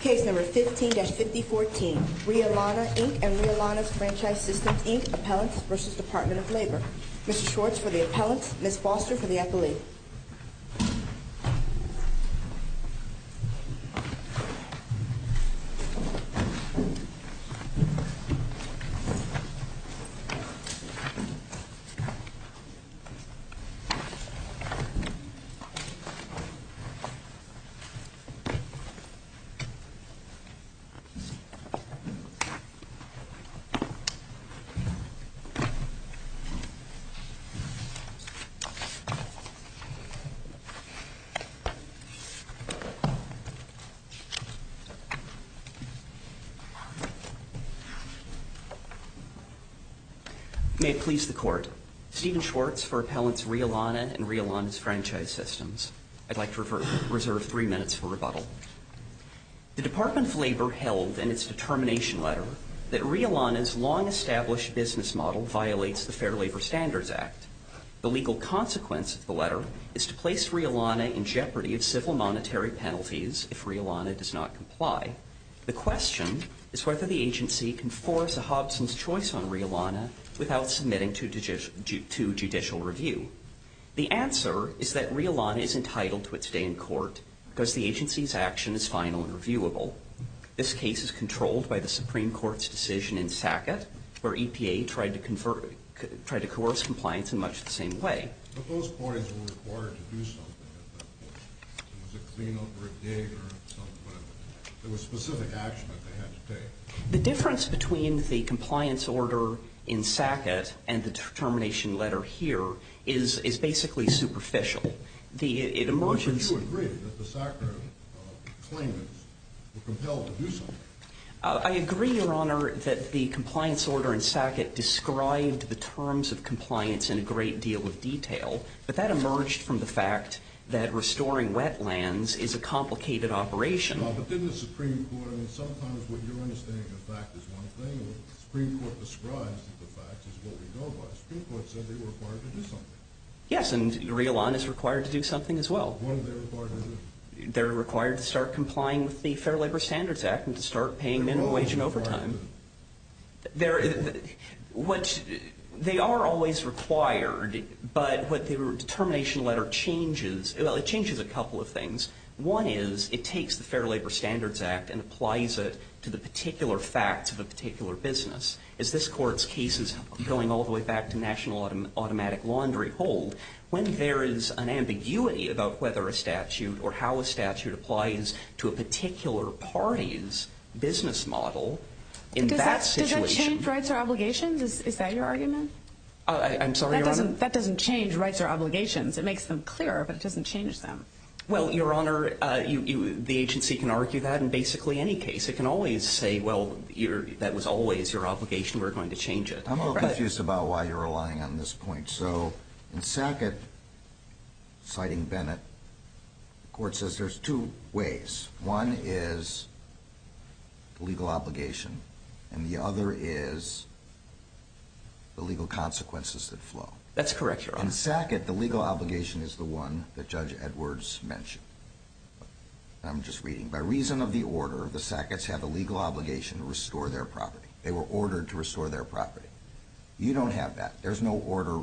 Case No. 15-5014, Rhea Lana, Inc. and Rhea Lana's Franchise Systems, Inc. Appellants v. Department of Labor Mr. Schwartz for the appellants, Ms. Foster for the appellee May it please the Court, Stephen Schwartz for appellants Rhea Lana and Rhea Lana's The Department of Labor held in its determination letter that Rhea Lana's long-established business model violates the Fair Labor Standards Act. The legal consequence of the letter is to place Rhea Lana in jeopardy of civil monetary penalties if Rhea Lana does not comply. The question is whether the agency can force a Hobson's choice on Rhea Lana without submitting to judicial review. The answer is that Rhea Lana is entitled to its stay in court because the agency's action is final and reviewable. This case is controlled by the Supreme Court's decision in Sackett, where EPA tried to coerce compliance in much the same way. The difference between the compliance order in Sackett and the determination letter here is superficial. I agree, Your Honor, that the compliance order in Sackett described the terms of compliance in a great deal of detail, but that emerged from the fact that in Sackett, Rhea Lana is required to do something as well. They're required to start complying with the Fair Labor Standards Act and to start paying minimum wage and overtime. They are always required, but what the determination letter changes, well, it changes a couple of things. One is it takes the Fair Labor Standards Act and applies it to the particular facts of a particular business. As this Court's case is going all the way back to national automatic laundry hold, when there is an ambiguity about whether a statute or how a statute applies to a particular party's business model in that situation... Does that change rights or obligations? Is that your argument? I'm sorry, Your Honor? That doesn't change rights or obligations. It makes them clearer, but it doesn't change them. Well, Your Honor, the agency can argue that in basically any case. It can always say, well, that was always your obligation. We're going to change it. I'm a little confused about why you're relying on this point. So in Sackett, citing Bennett, the Court says there's two ways. One is the legal obligation, and the other is the legal consequences that flow. That's correct, Your Honor. In Sackett, the legal obligation is the one that Judge Edwards mentioned. I'm just reading. By reason of the order, the Sacketts have a legal obligation to restore their property. They were ordered to restore their property. You don't have that. There's no order,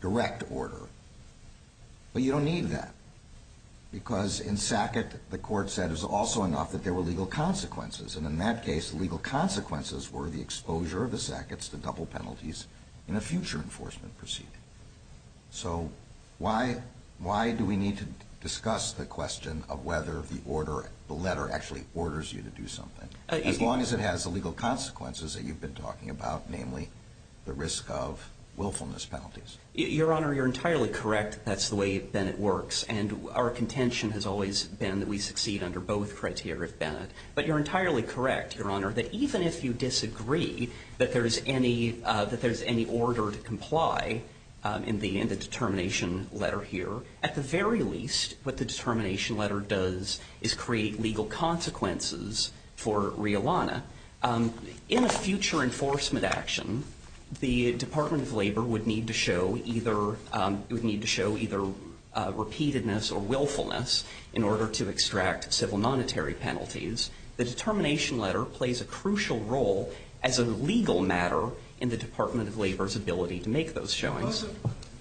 direct order. But you don't need that, because in Sackett, the Court said it was also enough that there were legal consequences. And in that case, the legal consequences were the exposure of the Sacketts to double penalties in a future enforcement proceeding. So why do we need to discuss the question of whether the order, the letter, actually orders you to do something? As long as it has the legal consequences that you've been talking about, namely the risk of willfulness penalties. Your Honor, you're entirely correct that that's the way Bennett works. And our contention has always been that we succeed under both criteria of Bennett. But you're entirely correct, Your Honor, that even if you disagree that there's any order to comply in the determination letter here, at the very least, what the determination letter does is create legal consequences for Riolana. In a future enforcement action, the Department of Labor would need to show either repeatedness or willfulness in order to extract civil monetary penalties. The determination letter plays a crucial role as a legal matter in the Department of Labor's ability to make those showings.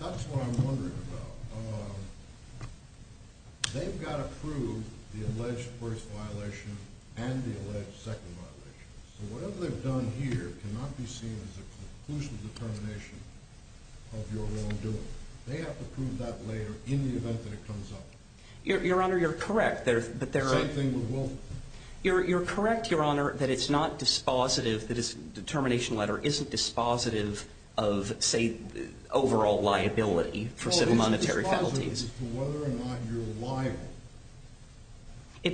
That's what I'm wondering about. They've got to prove the alleged first violation and the alleged second violation. So whatever they've done here cannot be seen as a conclusive determination of your wrongdoing. They have to prove that later in the event that it comes up. Your Honor, you're correct. Same thing with willfulness. You're correct, Your Honor, that it's not dispositive, that this determination letter isn't dispositive of, say, overall liability for civil monetary penalties. It's dispositive as to whether or not you're liable.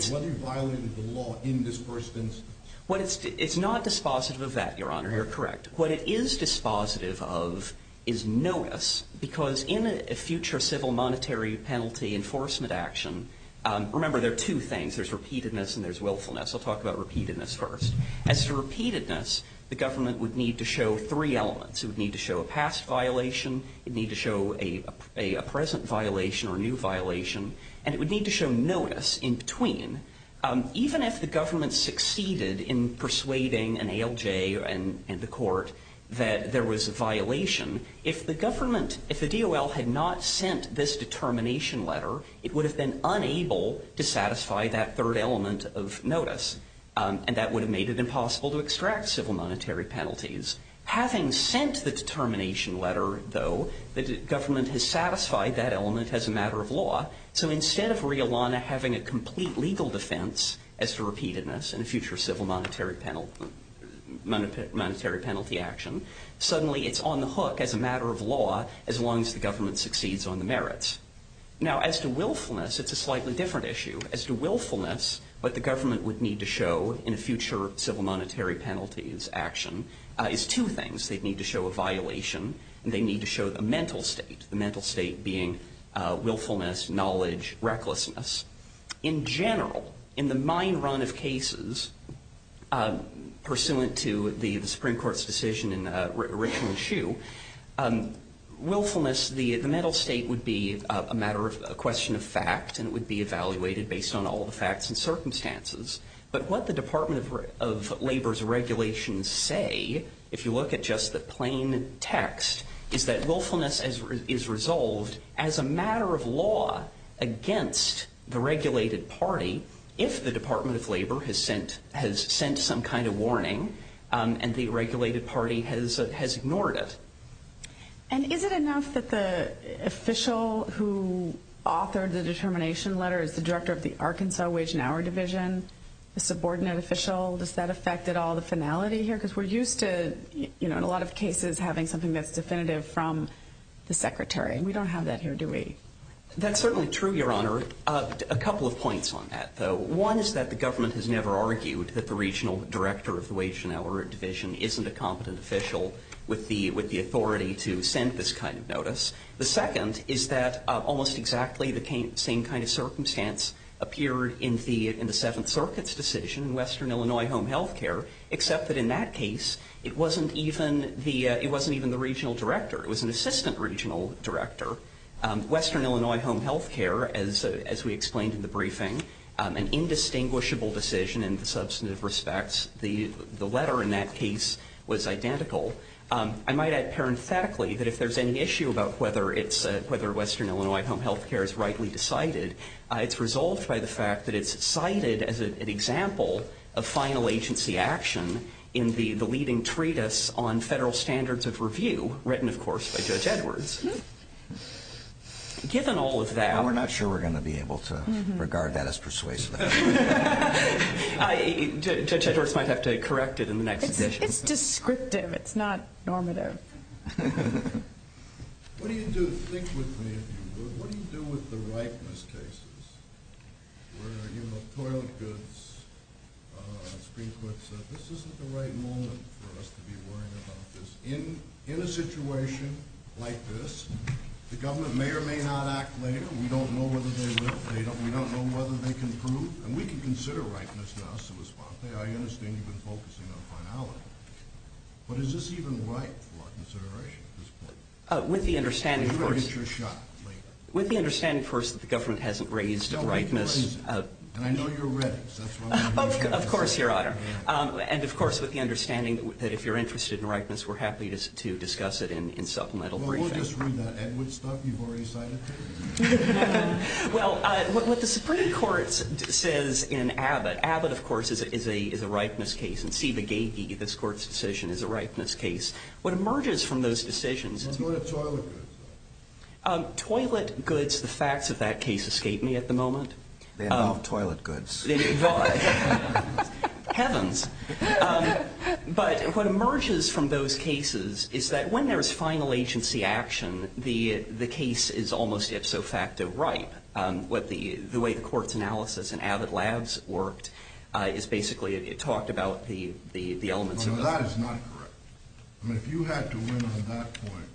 Whether you violated the law in this first instance. It's not dispositive of that, Your Honor. You're correct. What it is dispositive of is notice, because in a future civil monetary penalty enforcement action, remember there are two things. There's repeatedness and there's willfulness. I'll talk about repeatedness first. As to repeatedness, the government would need to show three elements. It would need to show a past violation. It would need to show a present violation or new violation. And it would need to show notice in between. Even if the government succeeded in persuading an ALJ and the court that there was a violation, if the government, if the DOL had not sent this determination letter, it would have been unable to satisfy that third element of notice. And that would have made it impossible to extract civil monetary penalties. Having sent the determination letter, though, the government has satisfied that element as a matter of law. So instead of Rihalana having a complete legal defense as to repeatedness in a future civil monetary penalty action, suddenly it's on the hook as a matter of law as long as the government succeeds on the merits. Now, as to willfulness, it's a slightly different issue. As to willfulness, what the government would need to show in a future civil monetary penalties action is two things. They'd need to show a violation, and they'd need to show the mental state, the mental state being willfulness, knowledge, recklessness. In general, in the mine run of cases pursuant to the Supreme Court's decision in Richland Shoe, willfulness, the mental state would be a matter of, a question of fact, and it is. But what the Department of Labor's regulations say, if you look at just the plain text, is that willfulness is resolved as a matter of law against the regulated party if the Department of Labor has sent some kind of warning and the regulated party has ignored it. And is it enough that the official who authored the determination letter is the director of the Arkansas Wage and Hour Division, a subordinate official? Does that affect at all the finality here? Because we're used to, you know, in a lot of cases having something that's definitive from the secretary. We don't have that here, do we? That's certainly true, Your Honor. A couple of points on that, though. One is that the government has never argued that the regional director of the Wage and Hour Division isn't a competent official with the authority to send this kind of notice. The second is that almost exactly the same kind of circumstance appeared in the Seventh Circuit's decision, Western Illinois Home Health Care, except that in that case it wasn't even the regional director. It was an assistant regional director. Western Illinois Home Health Care, as we explained in the briefing, an indistinguishable decision in the substantive respects. The letter in that case was identical. I might add parenthetically that if there's any issue about whether Western Illinois Home Health Care is rightly decided, it's resolved by the fact that it's cited as an example of final agency action in the leading treatise on federal standards of review, written, of course, by Judge Edwards. Given all of that... Well, we're not sure we're going to be able to regard that as persuasive. Judge Edwards might have to correct it in the next session. It's descriptive. It's not normative. What do you do? Think with me, if you would. What do you do with the rightness cases? Where, you know, toilet goods, Supreme Court said, this isn't the right moment for us to be worrying about this. In a situation like this, the government may or may not act later. We don't know whether they will. We don't know whether they can prove. And we can consider rightness now, I understand you've been focusing on finality. But is this even right for consideration at this point? With the understanding, of course, that the government hasn't raised rightness... And I know you're ready. Of course, Your Honor. And of course, with the understanding that if you're interested in rightness, we're happy to discuss it in supplemental briefing. Well, we'll just read that Edwards stuff you've already cited. Well, what the Supreme Court says in Abbott, Abbott, of course, is a rightness case. And Seba Gagee, this Court's decision, is a rightness case. What emerges from those decisions... What about toilet goods? Toilet goods, the facts of that case escape me at the moment. They're not toilet goods. Heavens. But what emerges from those cases is that when there's final agency action, the case is almost ipso facto right. The way the Court's analysis in Abbott Labs worked is basically it talked about the elements... No, that is not correct. I mean, if you had to win on that point,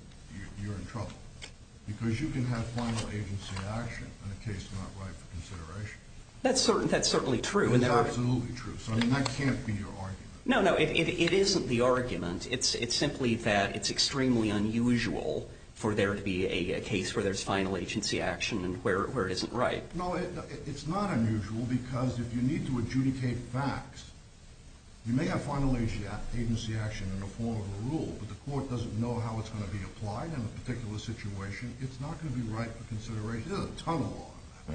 you're in trouble. Because you can have final agency action in a case not right for consideration. That's certainly true. That's absolutely true. So that can't be your argument. No, no, it isn't the argument. It's simply that it's extremely unusual for there to be a case where there's final agency action and where it isn't right. No, it's not unusual because if you need to adjudicate facts, you may have final agency action in the form of a rule, but the Court doesn't know how it's going to be applied in a particular situation. It's not going to be right for consideration. There's a ton of law.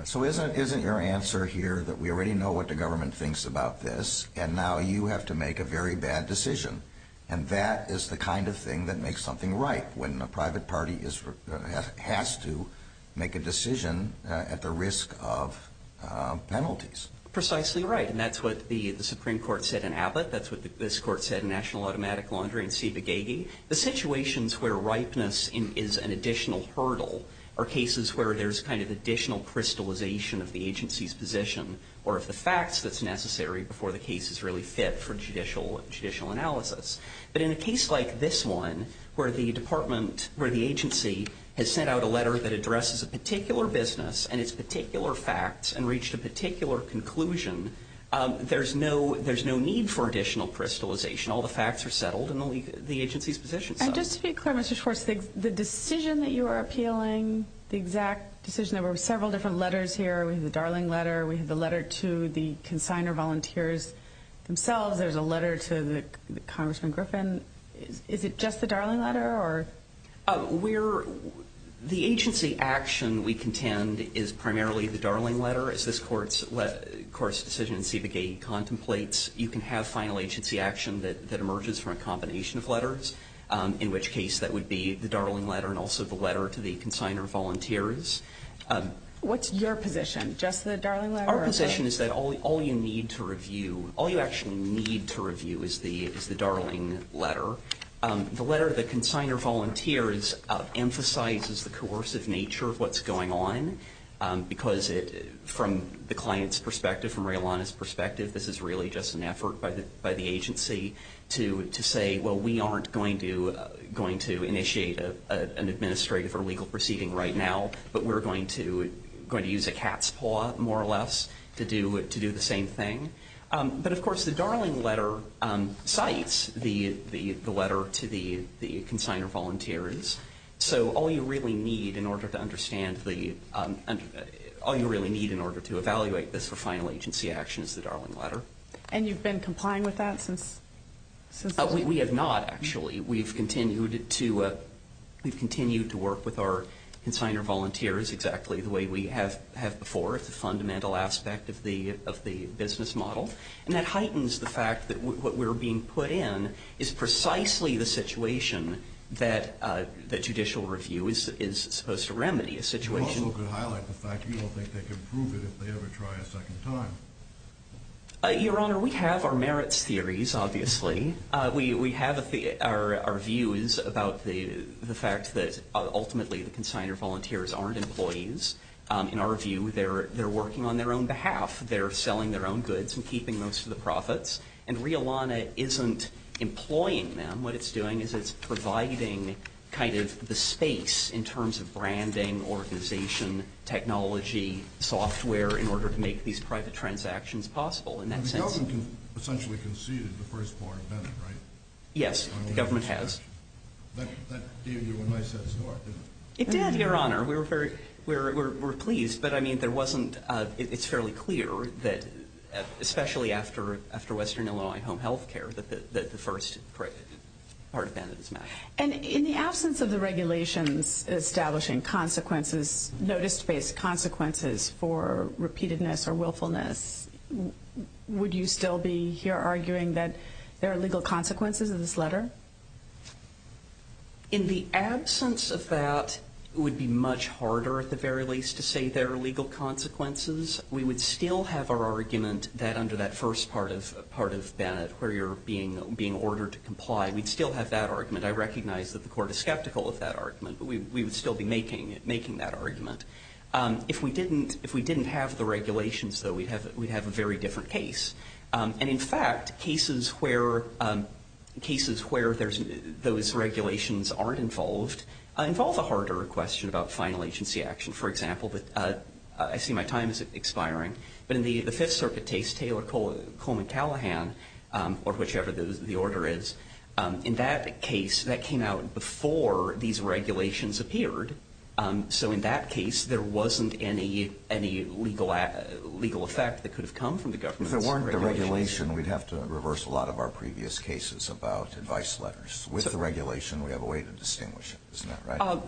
So isn't your answer here that we already know what the government thinks about this, and now you have to make a very bad decision? And that is the kind of thing that makes something right when a private party has to make a decision at the risk of penalties. Precisely right. And that's what the Supreme Court said in Abbott. That's what this Court said in National Automatic Laundry and Ciba Gagey. The situations where ripeness is an additional hurdle are cases where there's kind of additional crystallization of the agency's position or of the facts that's necessary before the case is really fit for judicial analysis. But in a case like this one where the agency has sent out a letter that addresses a particular business and its particular facts and reached a particular conclusion, there's no need for additional crystallization. All the facts are settled and the agency's position is settled. And just to be clear, Mr. Schwartz, the decision that you are appealing, the exact decision, there were several different letters here. We have the Darling Letter. We have the letter to the consignor volunteers themselves. There's a letter to Congressman Griffin. Is it just the Darling Letter? The agency action we contend is primarily the Darling Letter. As this Court's decision in Ciba Gagey contemplates, you can have final agency action that emerges from a combination of letters, in which case that would be the Darling Letter and also the letter to the consignor volunteers. What's your position? Just the Darling Letter? Our position is that all you need to review, all you actually need to review is the Darling Letter. The letter to the consignor volunteers emphasizes the coercive nature of what's going on because from the client's perspective, from Raylana's perspective, this is really just an effort by the agency to say, well, we aren't going to initiate an administrative or legal proceeding right now, but we're going to use a cat's paw, more or less, to do the same thing. But, of course, the Darling Letter cites the letter to the consignor volunteers, so all you really need in order to evaluate this for final agency action is the Darling Letter. And you've been complying with that since? We have not, actually. We've continued to work with our consignor volunteers exactly the way we have before. It's a fundamental aspect of the business model, and that heightens the fact that what we're being put in is precisely the situation that judicial review is supposed to remedy, a situation. You also highlight the fact you don't think they can prove it if they ever try a second time. Your Honor, we have our merits theories, obviously. We have our views about the fact that ultimately the consignor volunteers aren't employees. In our view, they're working on their own behalf. They're selling their own goods and keeping most of the profits. And Realana isn't employing them. What it's doing is it's providing kind of the space in terms of branding, organization, technology, software in order to make these private transactions possible in that sense. The government essentially conceded the first part of Bennett, right? Yes, the government has. That gave you a nice head start, didn't it? It did, Your Honor. We were pleased. But, I mean, it's fairly clear that, especially after Western Illinois Home Health Care, that the first part of Bennett is not. And in the absence of the regulations establishing consequences, notice-based consequences for repeatedness or willfulness, would you still be here arguing that there are legal consequences of this letter? In the absence of that, it would be much harder, at the very least, to say there are legal consequences. We would still have our argument that under that first part of Bennett, where you're being ordered to comply, we'd still have that argument. I recognize that the court is skeptical of that argument, but we would still be making that argument. If we didn't have the regulations, though, we'd have a very different case. And, in fact, cases where those regulations aren't involved involve a harder question about final agency action. For example, I see my time is expiring, but in the Fifth Circuit case, Taylor Coleman Callahan, or whichever the order is, in that case, that came out before these regulations appeared. So, in that case, there wasn't any legal effect that could have come from the government's regulation. If there weren't the regulation, we'd have to reverse a lot of our previous cases about advice letters. With the regulation, we have a way to distinguish it, isn't that right?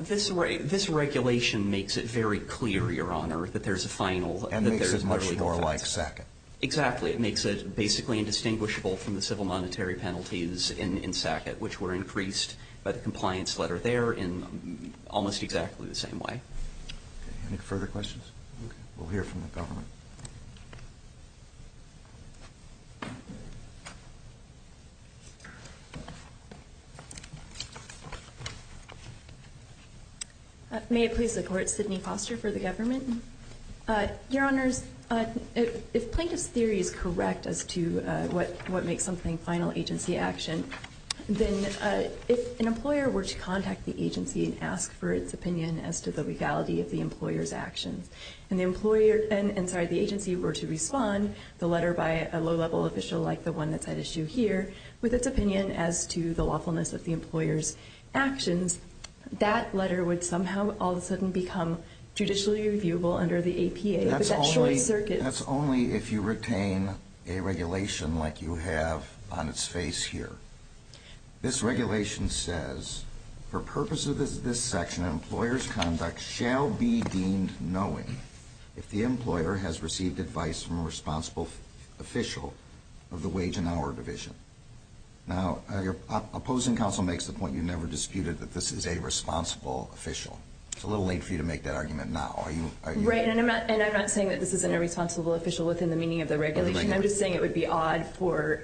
This regulation makes it very clear, Your Honor, that there's a final. And makes it much more like second. Exactly. It makes it basically indistinguishable from the civil monetary penalties in Sackett, which were increased by the compliance letter there in almost exactly the same way. Okay. Any further questions? Okay. We'll hear from the government. May it please the Court. Sydney Foster for the government. Your Honors, if plaintiff's theory is correct as to what makes something final agency action, then if an employer were to contact the agency and ask for its opinion as to the legality of the employer's actions, and the agency were to respond, the letter by a low-level official like the one that's at issue here, with its opinion as to the lawfulness of the employer's actions, that letter would somehow all of a sudden become judicially reviewable under the APA. But that's short circuit. That's only if you retain a regulation like you have on its face here. This regulation says, for purpose of this section, an employer's conduct shall be deemed knowing if the employer has received advice from a responsible official of the wage and hour division. Now, your opposing counsel makes the point you never disputed that this is a responsible official. It's a little late for you to make that argument now. Right. And I'm not saying that this isn't a responsible official within the meaning of the regulation. I'm just saying it would be odd for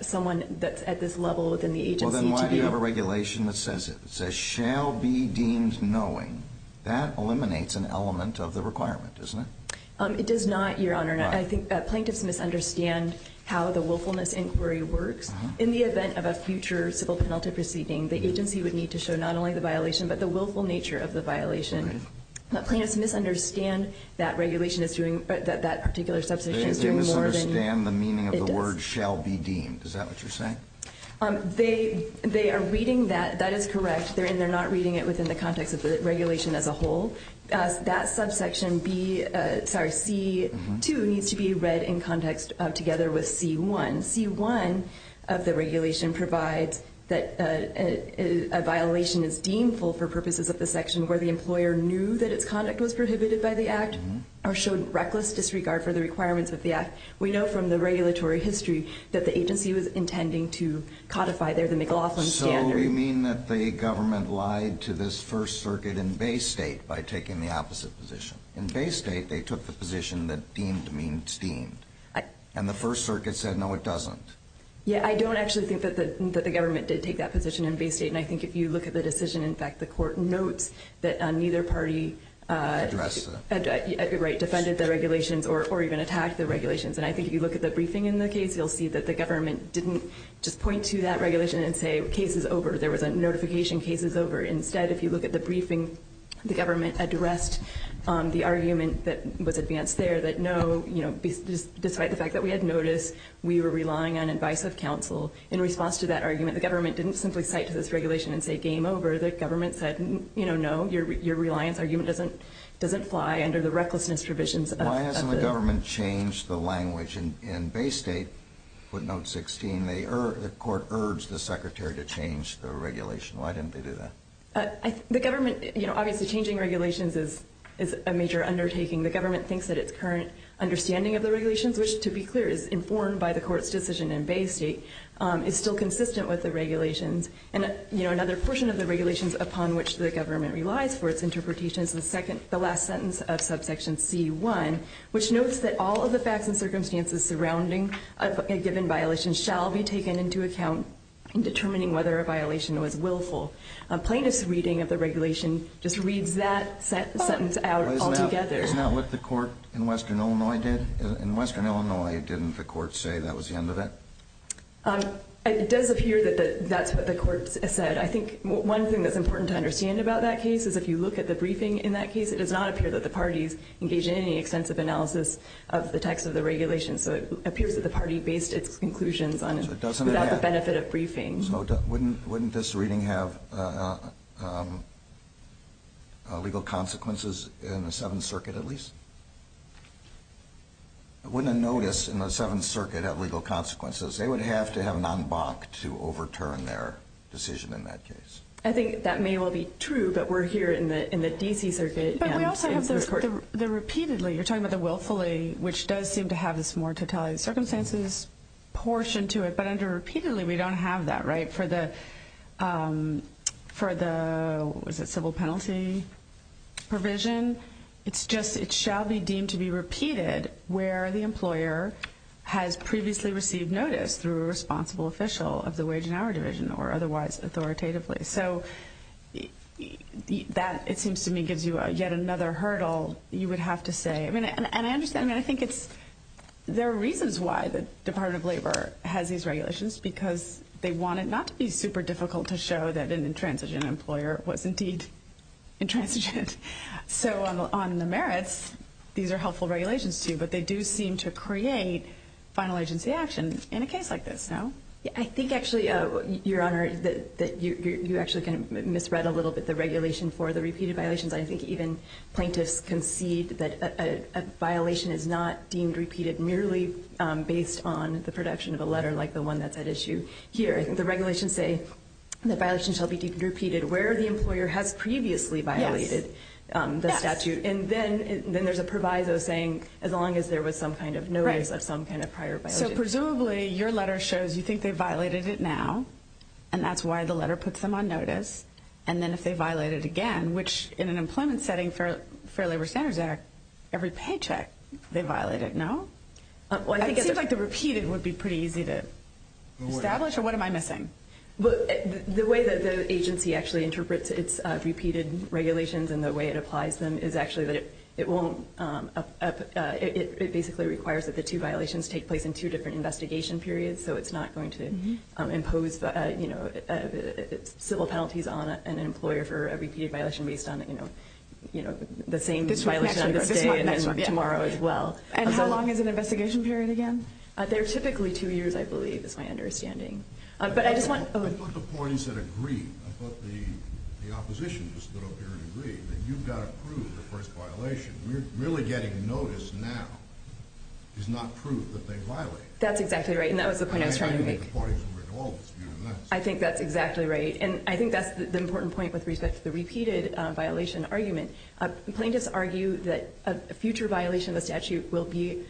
someone that's at this level within the agency to be. Well, then why do you have a regulation that says it? It says shall be deemed knowing. That eliminates an element of the requirement, doesn't it? It does not, Your Honor. Why? Plaintiffs misunderstand how the willfulness inquiry works. In the event of a future civil penalty proceeding, the agency would need to show not only the violation but the willful nature of the violation. Plaintiffs misunderstand that regulation is doing, that that particular subsection is doing more than. They misunderstand the meaning of the word shall be deemed. Is that what you're saying? They are reading that. That is correct. They're not reading it within the context of the regulation as a whole. That subsection C2 needs to be read in context together with C1. C1 of the regulation provides that a violation is deemful for purposes of the section where the employer knew that its conduct was prohibited by the act or showed reckless disregard for the requirements of the act. We know from the regulatory history that the agency was intending to codify there the McLaughlin standard. So you mean that the government lied to this First Circuit in Bay State by taking the opposite position. In Bay State, they took the position that deemed means deemed. And the First Circuit said, no, it doesn't. Yeah, I don't actually think that the government did take that position in Bay State. And I think if you look at the decision, in fact, the court notes that neither party defended the regulations or even attacked the regulations. And I think if you look at the briefing in the case, you'll see that the government didn't just point to that regulation and say, case is over. There was a notification, case is over. Instead, if you look at the briefing, the government addressed the argument that was advanced there, that no, you know, despite the fact that we had notice, we were relying on advice of counsel. In response to that argument, the government didn't simply cite to this regulation and say, game over. The government said, you know, no, your reliance argument doesn't fly under the recklessness provisions. Why hasn't the government changed the language? In Bay State, footnote 16, the court urged the secretary to change the regulation. Why didn't they do that? The government, you know, obviously changing regulations is a major undertaking. The government thinks that its current understanding of the regulations, which, to be clear, is informed by the court's decision in Bay State, is still consistent with the regulations. And, you know, another portion of the regulations upon which the government relies for its interpretation is the last sentence of subsection C1, which notes that all of the facts and circumstances surrounding a given violation shall be taken into account in determining whether a violation was willful. Plaintiff's reading of the regulation just reads that sentence out altogether. Isn't that what the court in western Illinois did? In western Illinois, didn't the court say that was the end of it? It does appear that that's what the court said. I think one thing that's important to understand about that case is if you look at the briefing in that case, it does not appear that the parties engaged in any extensive analysis of the text of the regulation. So it appears that the party based its conclusions on it without the benefit of briefing. So wouldn't this reading have legal consequences in the Seventh Circuit at least? Wouldn't a notice in the Seventh Circuit have legal consequences? They would have to have an en banc to overturn their decision in that case. I think that may well be true, but we're here in the D.C. Circuit. You're talking about the willfully, which does seem to have this more totality of circumstances portion to it. But under repeatedly, we don't have that. For the civil penalty provision, it shall be deemed to be repeated where the employer has previously received notice through a responsible official of the wage and hour division or otherwise authoritatively. So that, it seems to me, gives you yet another hurdle you would have to say. And I understand. I think there are reasons why the Department of Labor has these regulations because they want it not to be super difficult to show that an intransigent employer was indeed intransigent. So on the merits, these are helpful regulations to you, but they do seem to create final agency action in a case like this, no? I think actually, Your Honor, that you actually kind of misread a little bit the regulation for the repeated violations. I think even plaintiffs concede that a violation is not deemed repeated merely based on the production of a letter like the one that's at issue here. I think the regulations say the violation shall be deemed repeated where the employer has previously violated the statute. And then there's a proviso saying as long as there was some kind of notice of some kind of prior violation. So presumably, your letter shows you think they violated it now, and that's why the letter puts them on notice. And then if they violate it again, which in an employment setting for the Fair Labor Standards Act, every paycheck, they violate it, no? It seems like the repeated would be pretty easy to establish, or what am I missing? The way that the agency actually interprets its repeated regulations and the way it applies them is actually that it won't, it basically requires that the two violations take place in two different investigation periods. So it's not going to impose civil penalties on an employer for a repeated violation based on the same violation on this day and tomorrow as well. And how long is an investigation period again? They're typically two years, I believe, is my understanding. But I just want- But what about the points that agree? What about the oppositions that appear to agree that you've got to prove the first violation? Really getting notice now is not proof that they violated it. That's exactly right, and that was the point I was trying to make. I mean, I think the parties would agree to all this, but you're not saying that. I think that's exactly right, and I think that's the important point with respect to the repeated violation argument. Plaintiffs argue that a future violation of the statute will be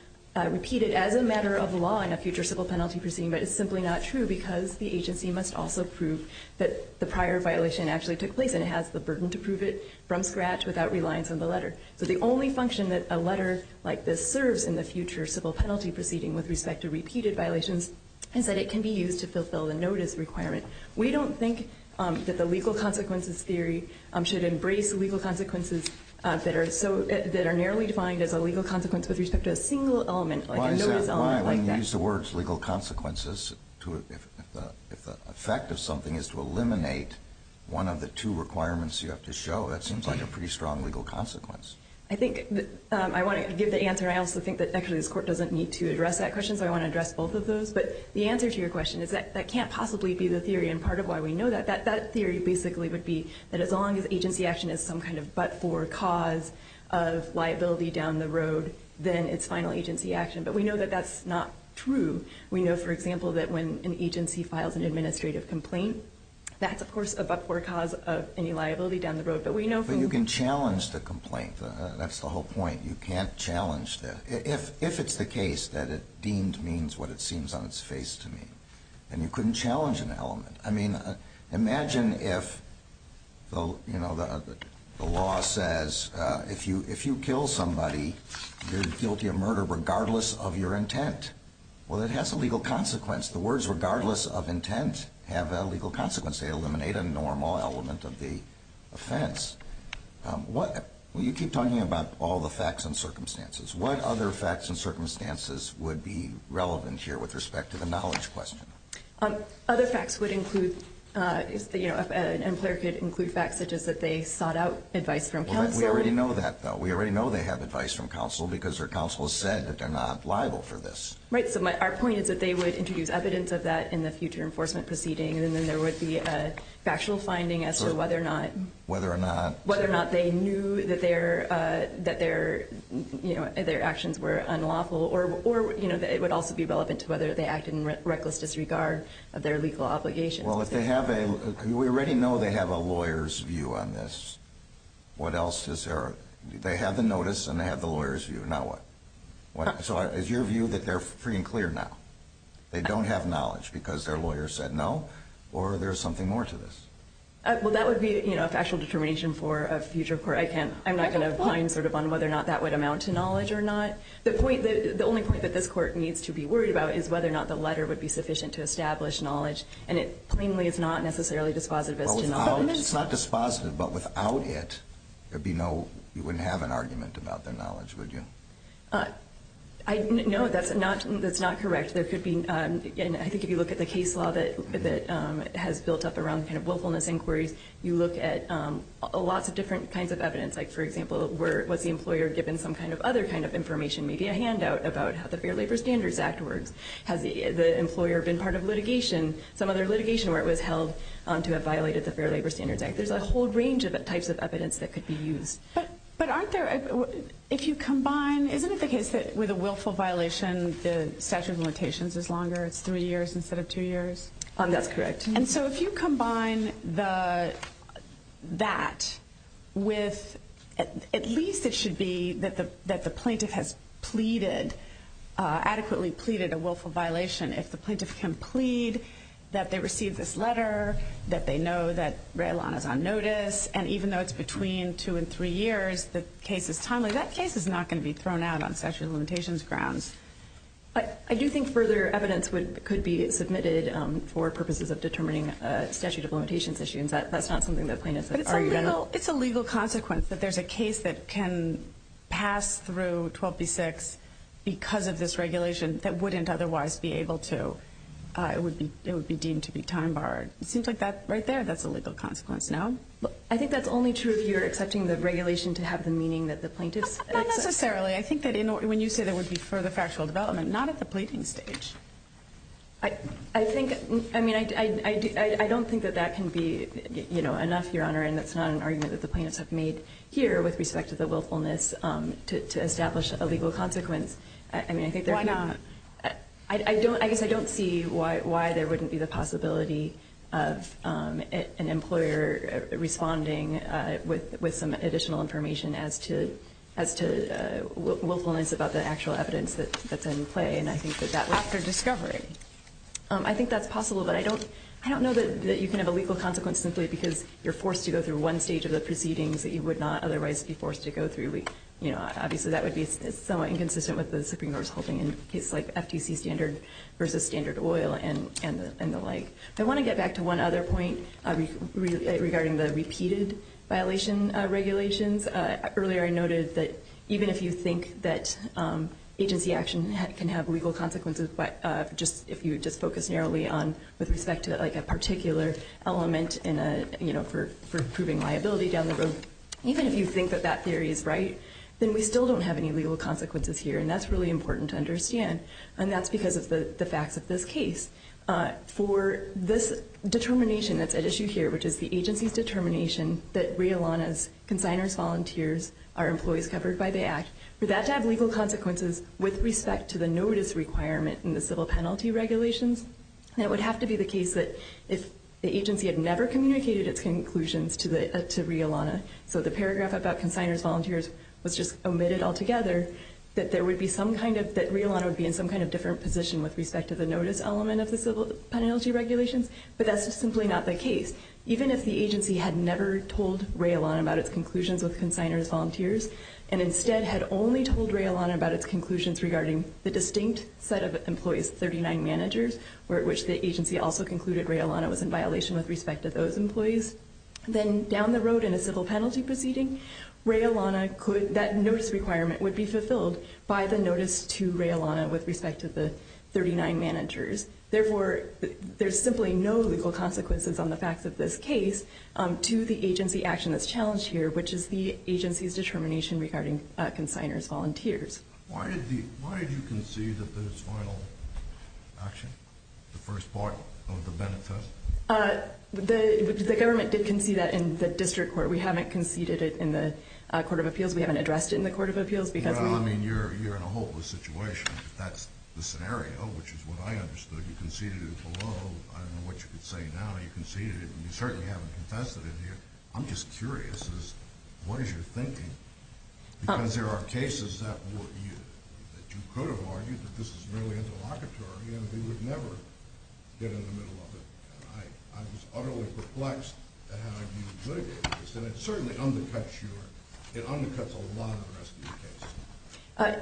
repeated as a matter of law in a future civil penalty proceeding, but it's simply not true because the agency must also prove that the prior violation actually took place and it has the burden to prove it from scratch without reliance on the letter. So the only function that a letter like this serves in the future civil penalty proceeding with respect to repeated violations is that it can be used to fulfill the notice requirement. We don't think that the legal consequences theory should embrace legal consequences that are narrowly defined as a legal consequence with respect to a single element like a notice element like that. If you use the words legal consequences, if the effect of something is to eliminate one of the two requirements you have to show, that seems like a pretty strong legal consequence. I think I want to give the answer. I also think that actually this Court doesn't need to address that question, so I want to address both of those. But the answer to your question is that that can't possibly be the theory, and part of why we know that. That theory basically would be that as long as agency action is some kind of but-for cause of liability down the road, then it's final agency action. But we know that that's not true. We know, for example, that when an agency files an administrative complaint, that's, of course, a but-for cause of any liability down the road. But you can challenge the complaint. That's the whole point. You can't challenge that. If it's the case that it deemed means what it seems on its face to mean, then you couldn't challenge an element. I mean, imagine if the law says if you kill somebody, you're guilty of murder regardless of your intent. Well, it has a legal consequence. The words regardless of intent have a legal consequence. They eliminate a normal element of the offense. You keep talking about all the facts and circumstances. What other facts and circumstances would be relevant here with respect to the knowledge question? Other facts would include facts such as that they sought out advice from counsel. We already know that, though. We already know they have advice from counsel because their counsel said that they're not liable for this. Right. So our point is that they would introduce evidence of that in the future enforcement proceeding, and then there would be a factual finding as to whether or not they knew that their actions were unlawful or it would also be relevant to whether they acted in reckless disregard of their legal obligations. Well, we already know they have a lawyer's view on this. What else is there? They have the notice and they have the lawyer's view. Now what? So is your view that they're free and clear now? They don't have knowledge because their lawyer said no, or there's something more to this? Well, that would be a factual determination for a future court. I'm not going to pine on whether or not that would amount to knowledge or not. The only point that this court needs to be worried about is whether or not the letter would be sufficient to establish knowledge, and it plainly is not necessarily dispositive as to knowledge. It's not dispositive, but without it, you wouldn't have an argument about their knowledge, would you? No, that's not correct. I think if you look at the case law that has built up around the kind of willfulness inquiries, you look at lots of different kinds of evidence. Like, for example, was the employer given some kind of other kind of information, maybe a handout about how the Fair Labor Standards Act works? Has the employer been part of litigation, some other litigation where it was held, to have violated the Fair Labor Standards Act? There's a whole range of types of evidence that could be used. But aren't there, if you combine, isn't it the case that with a willful violation, the statute of limitations is longer? It's three years instead of two years? That's correct. And so if you combine that with at least it should be that the plaintiff has pleaded, adequately pleaded a willful violation, if the plaintiff can plead that they received this letter, that they know that Raelan is on notice, and even though it's between two and three years, the case is timely, that case is not going to be thrown out on statute of limitations grounds. I do think further evidence could be submitted for purposes of determining statute of limitations issues. That's not something the plaintiff has argued at all. But it's a legal consequence that there's a case that can pass through 12b-6 because of this regulation that wouldn't otherwise be able to. It would be deemed to be time-barred. It seems like that right there, that's a legal consequence, no? I think that's only true if you're accepting the regulation to have the meaning that the plaintiff said. Not necessarily. I think that when you say that would be for the factual development, not at the pleading stage. I don't think that that can be enough, Your Honor, and that's not an argument that the plaintiffs have made here with respect to the willfulness to establish a legal consequence. Why not? I guess I don't see why there wouldn't be the possibility of an employer responding with some additional information as to willfulness about the actual evidence that's in play. And I think that that would... After discovery. I think that's possible. But I don't know that you can have a legal consequence simply because you're forced to go through one stage of the proceedings that you would not otherwise be forced to go through. Obviously, that would be somewhat inconsistent with the Supreme Court's holding in cases like FTC standard versus standard oil and the like. I want to get back to one other point regarding the repeated violation regulations. Earlier, I noted that even if you think that agency action can have legal consequences, but if you just focus narrowly on with respect to a particular element for proving liability down the road, even if you think that that theory is right, then we still don't have any legal consequences here. And that's really important to understand. And that's because of the facts of this case. For this determination that's at issue here, which is the agency's determination that Realana's consignors volunteers are employees covered by the Act, for that to have legal consequences with respect to the notice requirement in the civil penalty regulations, it would have to be the case that if the agency had never communicated its conclusions to Realana, so the paragraph about consignors volunteers was just omitted altogether, that Realana would be in some kind of different position with respect to the notice element of the civil penalty regulations. But that's just simply not the case. Even if the agency had never told Realana about its conclusions with consignors volunteers and instead had only told Realana about its conclusions regarding the distinct set of employees, 39 managers, at which the agency also concluded Realana was in violation with respect to those employees, then down the road in a civil penalty proceeding, that notice requirement would be fulfilled by the notice to Realana with respect to the 39 managers. Therefore, there's simply no legal consequences on the facts of this case to the agency action that's challenged here, which is the agency's determination regarding consignors volunteers. Why did you concede that this final action, the first part of the benefit? The government did concede that in the district court. We haven't conceded it in the Court of Appeals. We haven't addressed it in the Court of Appeals. Well, I mean, you're in a hopeless situation. That's the scenario, which is what I understood. You conceded it below. I don't know what you could say now. You conceded it, and you certainly haven't confessed it in here. I'm just curious. What is your thinking? Because there are cases that you could have argued that this is merely interlocutory, and we would never get in the middle of it. I was utterly perplexed at how you would mitigate this, and it certainly undercuts a lot of the rest of your case.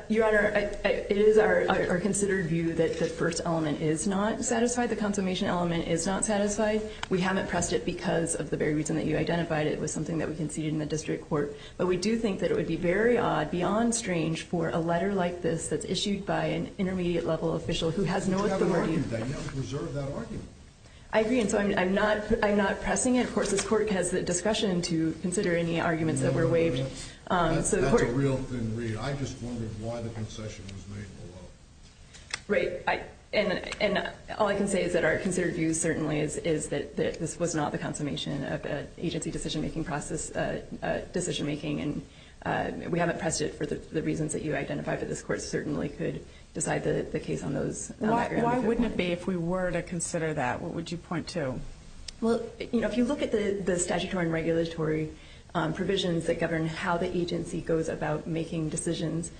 Your Honor, it is our considered view that the first element is not satisfied. The consummation element is not satisfied. We haven't pressed it because of the very reason that you identified it was something that we conceded in the district court. But we do think that it would be very odd, beyond strange, for a letter like this that's issued by an intermediate-level official who has no authority. But you haven't argued that. You haven't preserved that argument. I agree, and so I'm not pressing it. Of course, this Court has the discretion to consider any arguments that were waived. That's a real thin read. I just wondered why the concession was made below. Right. And all I can say is that our considered view certainly is that this was not the consummation of an agency decision-making process, and we haven't pressed it for the reasons that you identified, but this Court certainly could decide the case on those. Why wouldn't it be if we were to consider that? What would you point to? Well, if you look at the statutory and regulatory provisions that govern how the agency goes about making decisions,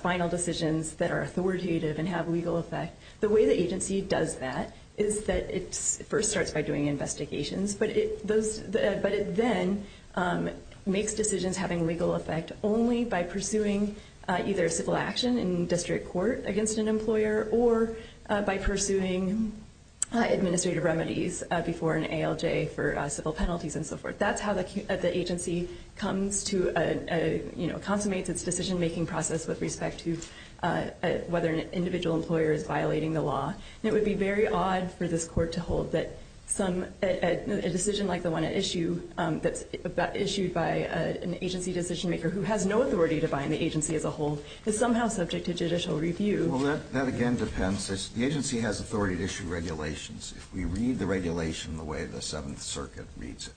final decisions that are authoritative and have legal effect, the way the agency does that is that it first starts by doing investigations, but it then makes decisions having legal effect only by pursuing either civil action in district court against an employer or by pursuing administrative remedies before an ALJ for civil penalties and so forth. That's how the agency consummates its decision-making process with respect to whether an individual employer is violating the law. And it would be very odd for this Court to hold that a decision like the one issued by an agency decision-maker who has no authority to bind the agency as a whole is somehow subject to judicial review. Well, that again depends. The agency has authority to issue regulations. If we read the regulation the way the Seventh Circuit reads it,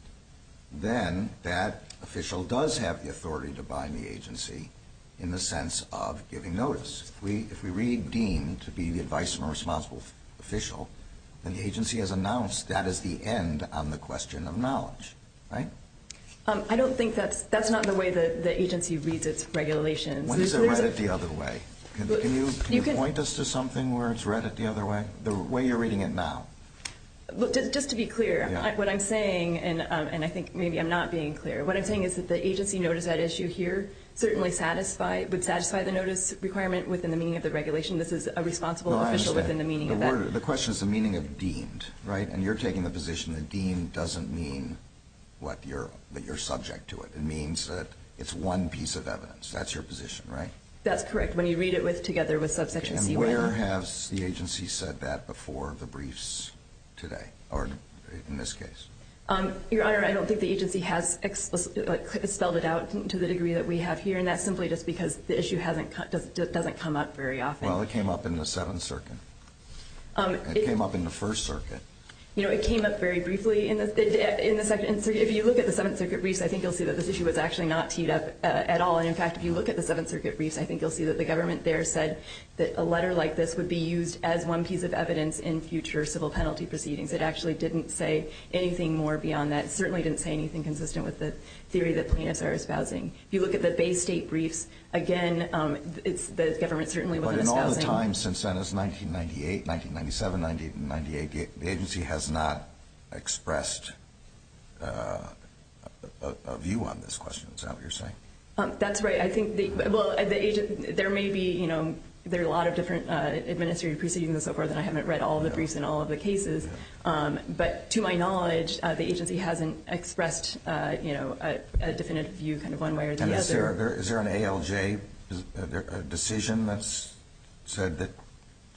then that official does have the authority to bind the agency in the sense of giving notice. If we read deem to be the advice from a responsible official, then the agency has announced that is the end on the question of knowledge, right? I don't think that's – that's not the way the agency reads its regulations. When is it read it the other way? Can you point us to something where it's read it the other way, the way you're reading it now? Just to be clear, what I'm saying, and I think maybe I'm not being clear, what I'm saying is that the agency notice that issue here certainly satisfy – would satisfy the notice requirement within the meaning of the regulation. This is a responsible official within the meaning of that. No, I understand. The question is the meaning of deemed, right? And you're taking the position that deemed doesn't mean what you're – that you're subject to it. It means that it's one piece of evidence. That's your position, right? That's correct. When you read it with – together with subsection C1. And where has the agency said that before the briefs today, or in this case? Your Honor, I don't think the agency has explicitly spelled it out to the degree that we have here, and that's simply just because the issue hasn't – doesn't come up very often. Well, it came up in the Seventh Circuit. It came up in the First Circuit. You know, it came up very briefly in the – in the Second Circuit. If you look at the Seventh Circuit briefs, I think you'll see that this issue was actually not teed up at all. And, in fact, if you look at the Seventh Circuit briefs, I think you'll see that the government there said that a letter like this would be used as one piece of evidence in future civil penalty proceedings. It actually didn't say anything more beyond that. It certainly didn't say anything consistent with the theory that plaintiffs are espousing. If you look at the Bay State briefs, again, it's – the government certainly wasn't espousing. But in all the time since then, it was 1998, 1997, 1998, the agency has not expressed a view on this question. Is that what you're saying? That's right. I think the – well, the – there may be, you know, there are a lot of different administrative proceedings and so forth, and I haven't read all the briefs in all of the cases. But to my knowledge, the agency hasn't expressed, you know, a definitive view kind of one way or the other. And is there an ALJ decision that's said that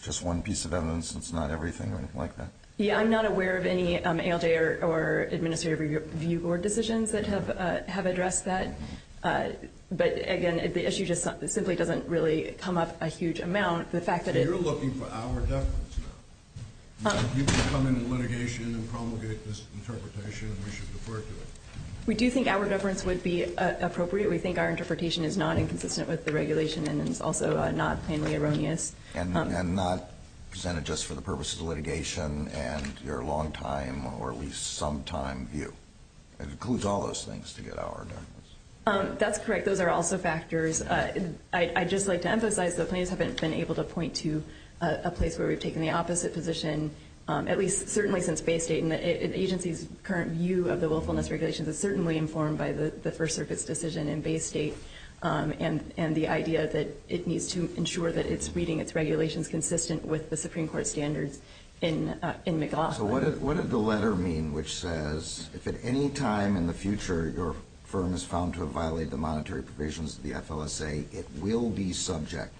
just one piece of evidence is not everything or anything like that? Yeah, I'm not aware of any ALJ or administrative review board decisions that have addressed that. But, again, the issue just simply doesn't really come up a huge amount. So you're looking for our deference here? You can come into litigation and promulgate this interpretation, and we should defer to it. We do think our deference would be appropriate. We think our interpretation is not inconsistent with the regulation and is also not plainly erroneous. And not presented just for the purpose of the litigation and your longtime or at least sometime view. It includes all those things to get our deference. That's correct. Those are also factors. I'd just like to emphasize the plaintiffs haven't been able to point to a place where we've taken the opposite position, at least certainly since Bay State. And the agency's current view of the willfulness regulations is certainly informed by the First Circuit's decision in Bay State and the idea that it needs to ensure that it's reading its regulations consistent with the Supreme Court standards in McLaughlin. So what did the letter mean, which says if at any time in the future your firm is found to have violated the monetary provisions of the FLSA, it will be subject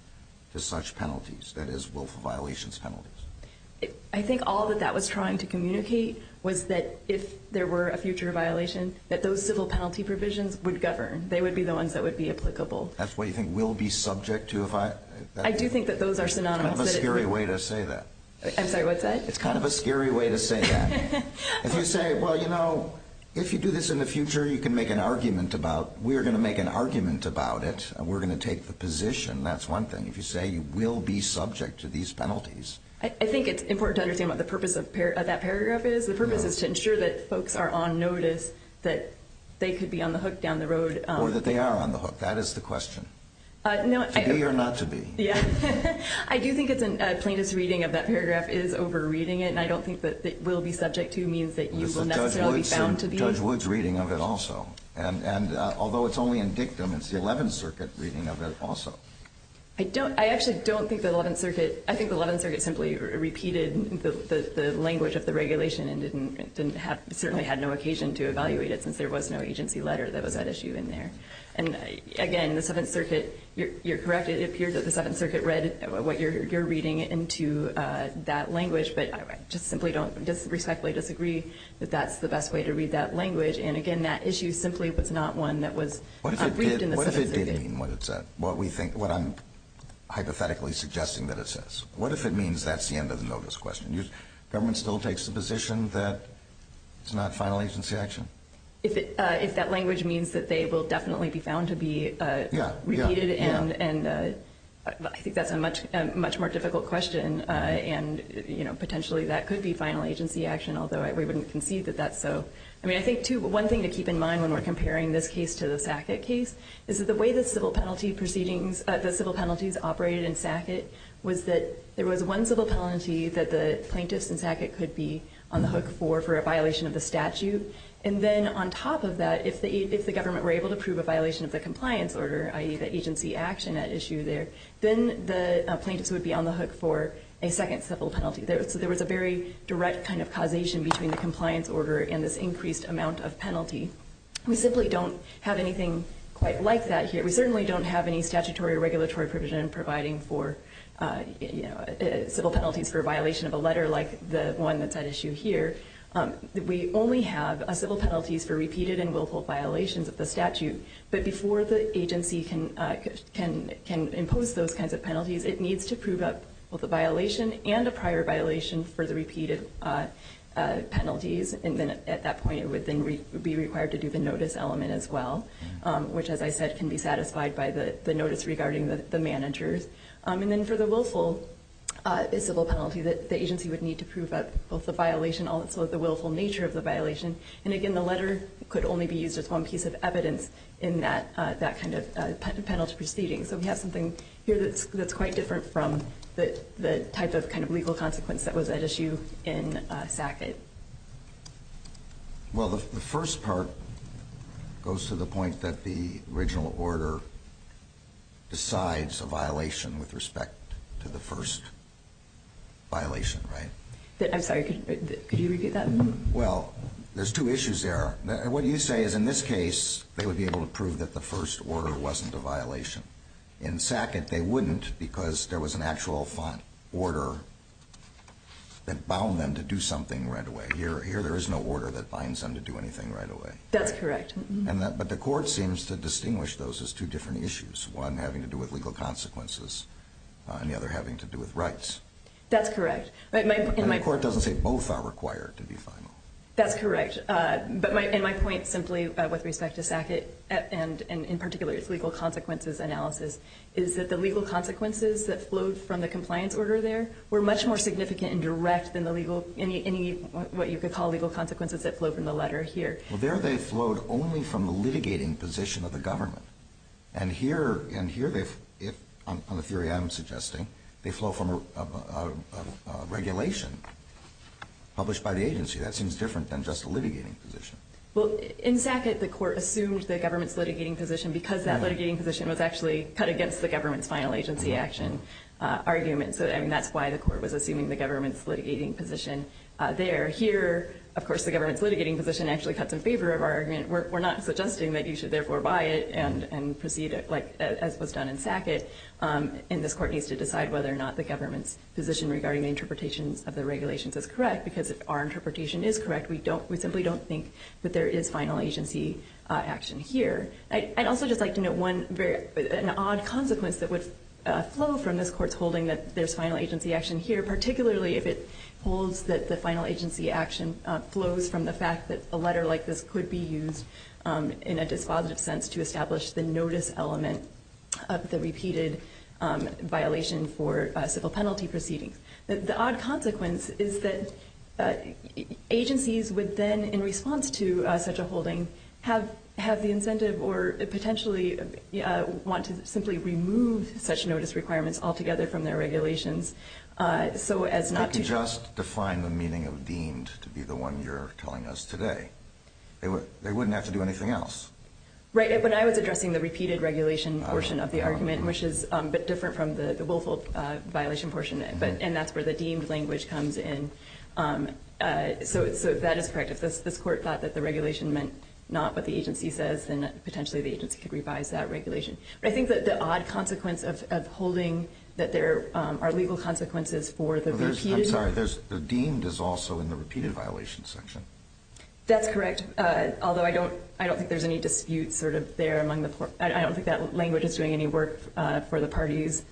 to such penalties, that is, willful violations penalties? I think all that that was trying to communicate was that if there were a future violation, that those civil penalty provisions would govern. They would be the ones that would be applicable. That's what you think will be subject to? I do think that those are synonymous. It's kind of a scary way to say that. I'm sorry, what's that? It's kind of a scary way to say that. If you say, well, you know, if you do this in the future, you can make an argument about it. We're going to make an argument about it. We're going to take the position. That's one thing. If you say you will be subject to these penalties. I think it's important to understand what the purpose of that paragraph is. The purpose is to ensure that folks are on notice that they could be on the hook down the road. Or that they are on the hook. That is the question. To be or not to be. I do think it's a plaintiff's reading of that paragraph is over reading it. And I don't think that it will be subject to means that you will necessarily be bound to be. This is Judge Wood's reading of it also. And although it's only in dictum, it's the 11th Circuit reading of it also. I actually don't think the 11th Circuit, I think the 11th Circuit simply repeated the language of the regulation and certainly had no occasion to evaluate it since there was no agency letter that was at issue in there. And, again, the 7th Circuit, you're correct. It appears that the 7th Circuit read what you're reading into that language. But I just simply don't respectfully disagree that that's the best way to read that language. And, again, that issue simply was not one that was briefed in the 7th Circuit. What if it didn't mean what I'm hypothetically suggesting that it says? What if it means that's the end of the notice question? Government still takes the position that it's not final agency action? If that language means that they will definitely be found to be repeated, I think that's a much more difficult question, and potentially that could be final agency action, although we wouldn't concede that that's so. I mean, I think, too, one thing to keep in mind when we're comparing this case to the Sackett case is that the way the civil penalties operated in Sackett was that there was one civil penalty that the plaintiffs in Sackett could be on the hook for for a violation of the statute, and then on top of that, if the government were able to prove a violation of the compliance order, i.e., the agency action at issue there, then the plaintiffs would be on the hook for a second civil penalty. So there was a very direct kind of causation between the compliance order and this increased amount of penalty. We simply don't have anything quite like that here. We certainly don't have any statutory or regulatory provision providing for civil penalties for a violation of a letter like the one that's at issue here. We only have civil penalties for repeated and willful violations of the statute, but before the agency can impose those kinds of penalties, it needs to prove up both a violation and a prior violation for the repeated penalties, and then at that point it would then be required to do the notice element as well, which, as I said, can be satisfied by the notice regarding the managers. And then for the willful civil penalty, the agency would need to prove both the violation and also the willful nature of the violation. And again, the letter could only be used as one piece of evidence in that kind of penalty proceeding. So we have something here that's quite different from the type of kind of legal consequence that was at issue in SACET. Well, the first part goes to the point that the original order decides a violation with respect to the first violation, right? I'm sorry, could you repeat that? Well, there's two issues there. What you say is in this case they would be able to prove that the first order wasn't a violation. In SACET they wouldn't because there was an actual order that bound them to do something right away. Here there is no order that binds them to do anything right away. That's correct. But the court seems to distinguish those as two different issues, one having to do with legal consequences and the other having to do with rights. That's correct. And the court doesn't say both are required to be final. That's correct. And my point simply with respect to SACET and in particular its legal consequences analysis is that the legal consequences that flowed from the compliance order there were much more significant and direct than any what you could call legal consequences that flowed from the letter here. Well, there they flowed only from the litigating position of the government. And here, on the theory I'm suggesting, they flow from a regulation published by the agency. That seems different than just a litigating position. Well, in SACET the court assumed the government's litigating position because that litigating position was actually cut against the government's final agency action argument. And that's why the court was assuming the government's litigating position there. Here, of course, the government's litigating position actually cuts in favor of our argument. We're not suggesting that you should therefore buy it and proceed as was done in SACET. And this court needs to decide whether or not the government's position regarding the interpretations of the regulations is correct because if our interpretation is correct, we simply don't think that there is final agency action here. I'd also just like to note an odd consequence that would flow from this court's holding that there's final agency action here, particularly if it holds that the final agency action flows from the fact that a letter like this could be used in a dispositive sense to establish the notice element of the repeated violation for civil penalty proceedings. The odd consequence is that agencies would then, in response to such a holding, have the incentive or potentially want to simply remove such notice requirements altogether from their regulations. I could just define the meaning of deemed to be the one you're telling us today. They wouldn't have to do anything else. Right. And that's where the deemed language comes in. So that is correct. If this court thought that the regulation meant not what the agency says, then potentially the agency could revise that regulation. But I think that the odd consequence of holding that there are legal consequences for the repeated- I'm sorry. The deemed is also in the repeated violation section. That's correct, although I don't think there's any dispute sort of there among the court. I don't think that language is doing any work for the parties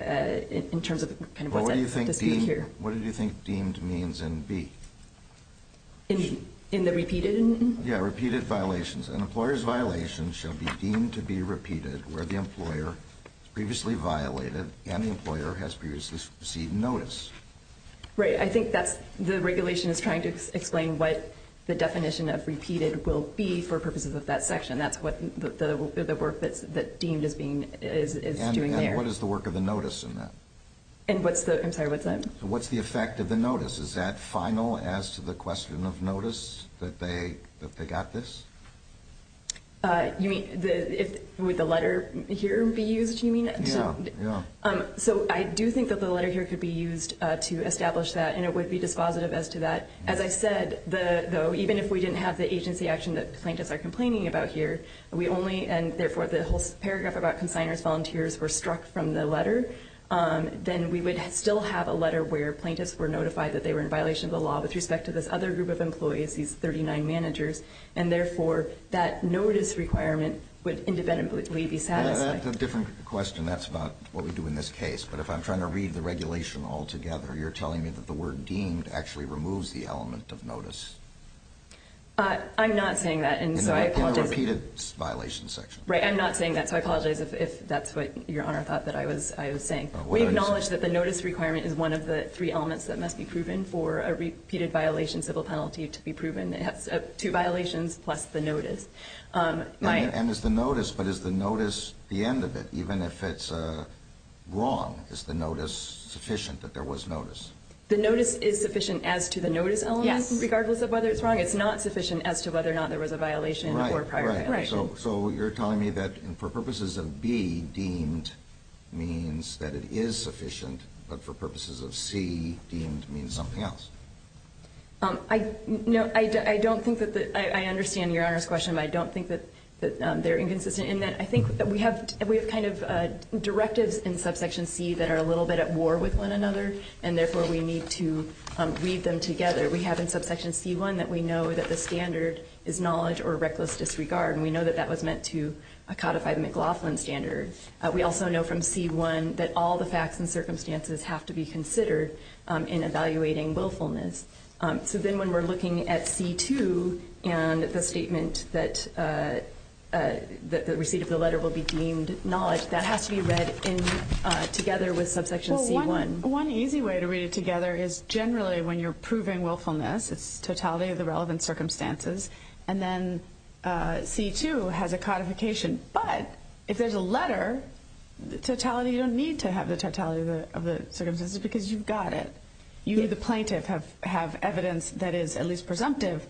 in terms of what's at dispute here. What do you think deemed means in B? In the repeated? Yeah, repeated violations. An employer's violation shall be deemed to be repeated where the employer has previously violated and the employer has previously received notice. Right. I think the regulation is trying to explain what the definition of repeated will be for purposes of that section. And that's what the work that's deemed is doing there. And what is the work of the notice in that? I'm sorry, what's that? What's the effect of the notice? Is that final as to the question of notice that they got this? You mean would the letter here be used, you mean? Yeah, yeah. So I do think that the letter here could be used to establish that, and it would be dispositive as to that. As I said, though, even if we didn't have the agency action that plaintiffs are complaining about here, we only, and therefore the whole paragraph about consignors, volunteers were struck from the letter, then we would still have a letter where plaintiffs were notified that they were in violation of the law with respect to this other group of employees, these 39 managers, and therefore that notice requirement would independently be satisfied. That's a different question. That's not what we do in this case. But if I'm trying to read the regulation altogether, you're telling me that the word deemed actually removes the element of notice. I'm not saying that. In the repeated violations section. Right, I'm not saying that, so I apologize if that's what Your Honor thought that I was saying. We acknowledge that the notice requirement is one of the three elements that must be proven for a repeated violation civil penalty to be proven. It has two violations plus the notice. And it's the notice, but is the notice the end of it? Even if it's wrong, is the notice sufficient that there was notice? The notice is sufficient as to the notice element, regardless of whether it's wrong. It's not sufficient as to whether or not there was a violation in the prior paragraph. So you're telling me that for purposes of B, deemed means that it is sufficient, but for purposes of C, deemed means something else. I don't think that the – I understand Your Honor's question, but I don't think that they're inconsistent in that I think that we have kind of directives in subsection C that are a little bit at war with one another, and therefore we need to read them together. We have in subsection C1 that we know that the standard is knowledge or reckless disregard, and we know that that was meant to codify the McLaughlin standard. We also know from C1 that all the facts and circumstances have to be considered in evaluating willfulness. So then when we're looking at C2 and the statement that the receipt of the letter will be deemed knowledge, that has to be read together with subsection C1. Well, one easy way to read it together is generally when you're proving willfulness, it's totality of the relevant circumstances, and then C2 has a codification. But if there's a letter, the totality – you don't need to have the totality of the circumstances because you've got it. You, the plaintiff, have evidence that is at least presumptive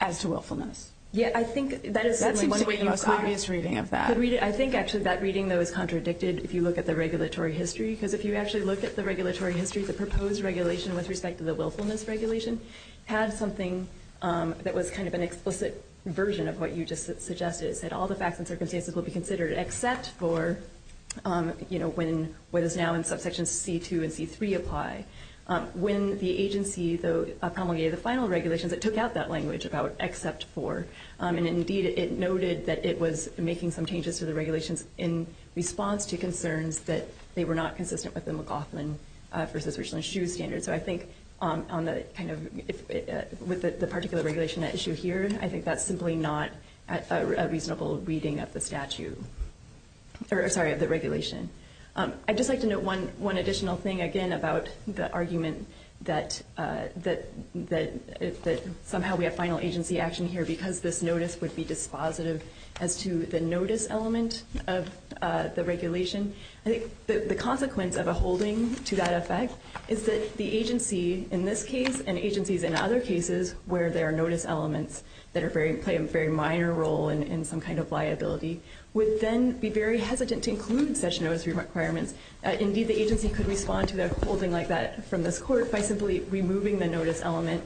as to willfulness. Yeah, I think that is – That seems to be the most obvious reading of that. I think actually that reading, though, is contradicted if you look at the regulatory history, because if you actually look at the regulatory history, the proposed regulation with respect to the willfulness regulation had something that was kind of an explicit version of what you just suggested. It said all the facts and circumstances will be considered except for, you know, what is now in subsection C2 and C3 apply. When the agency, though, promulgated the final regulations, it took out that language about except for, and indeed it noted that it was making some changes to the regulations in response to concerns that they were not consistent with the McLaughlin v. Richland-Schuh standard. So I think on the kind of – with the particular regulation at issue here, I think that's simply not a reasonable reading of the statute – sorry, of the regulation. I'd just like to note one additional thing, again, about the argument that somehow we have final agency action here because this notice would be dispositive as to the notice element of the regulation. I think the consequence of a holding to that effect is that the agency in this case and agencies in other cases where there are notice elements that play a very minor role in some kind of liability would then be very hesitant to include such notice requirements. Indeed, the agency could respond to a holding like that from this court by simply removing the notice element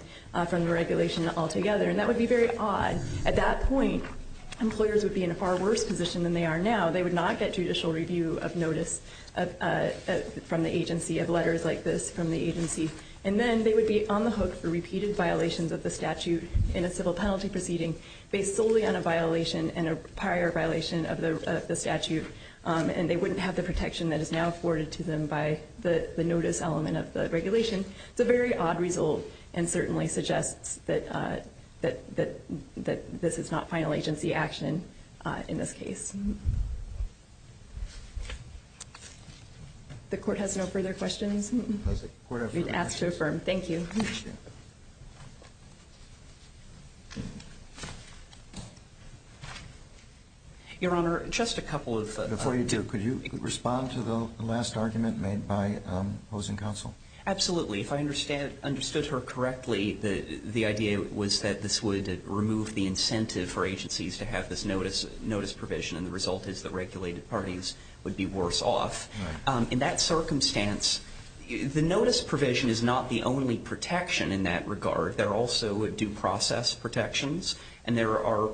from the regulation altogether, and that would be very odd. At that point, employers would be in a far worse position than they are now. They would not get judicial review of notice from the agency of letters like this from the agency, and then they would be on the hook for repeated violations of the statute in a civil penalty proceeding based solely on a violation and a prior violation of the statute, and they wouldn't have the protection that is now afforded to them by the notice element of the regulation. It's a very odd result and certainly suggests that this is not final agency action in this case. The court has no further questions? The court has no further questions. I've been asked to affirm. Thank you. Your Honor, just a couple of things. Before you do, could you respond to the last argument made by opposing counsel? Absolutely. If I understood her correctly, the idea was that this would remove the incentive for agencies to have this notice provision, and the result is that regulated parties would be worse off. Right. In that circumstance, the notice provision is not the only protection in that regard. There are also due process protections, and there are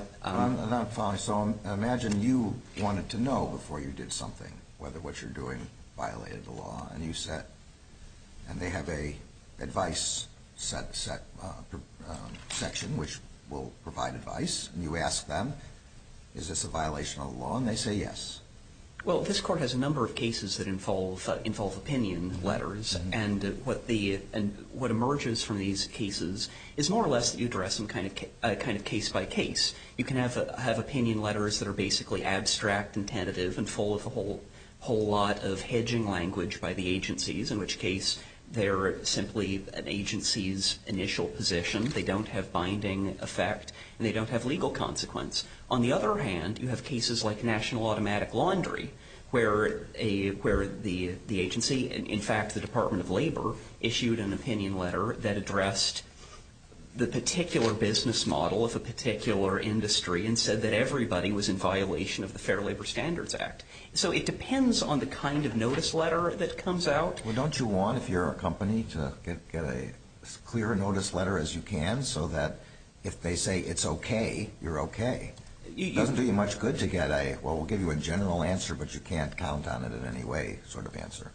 – I'm not following. So imagine you wanted to know before you did something whether what you're doing violated the law, and you said – and they have a advice section which will provide advice, and you ask them is this a violation of the law, and they say yes. Well, this Court has a number of cases that involve opinion letters, and what emerges from these cases is more or less that you address them kind of case by case. You can have opinion letters that are basically abstract and tentative and full of a whole lot of hedging language by the agencies, in which case they're simply an agency's initial position. They don't have binding effect, and they don't have legal consequence. On the other hand, you have cases like National Automatic Laundry, where the agency – in fact, the Department of Labor issued an opinion letter that addressed the particular business model of a particular industry and said that everybody was in violation of the Fair Labor Standards Act. So it depends on the kind of notice letter that comes out. Well, don't you want, if you're a company, to get a clear notice letter as you can so that if they say it's okay, you're okay? It doesn't do you much good to get a well, we'll give you a general answer, but you can't count on it in any way sort of answer.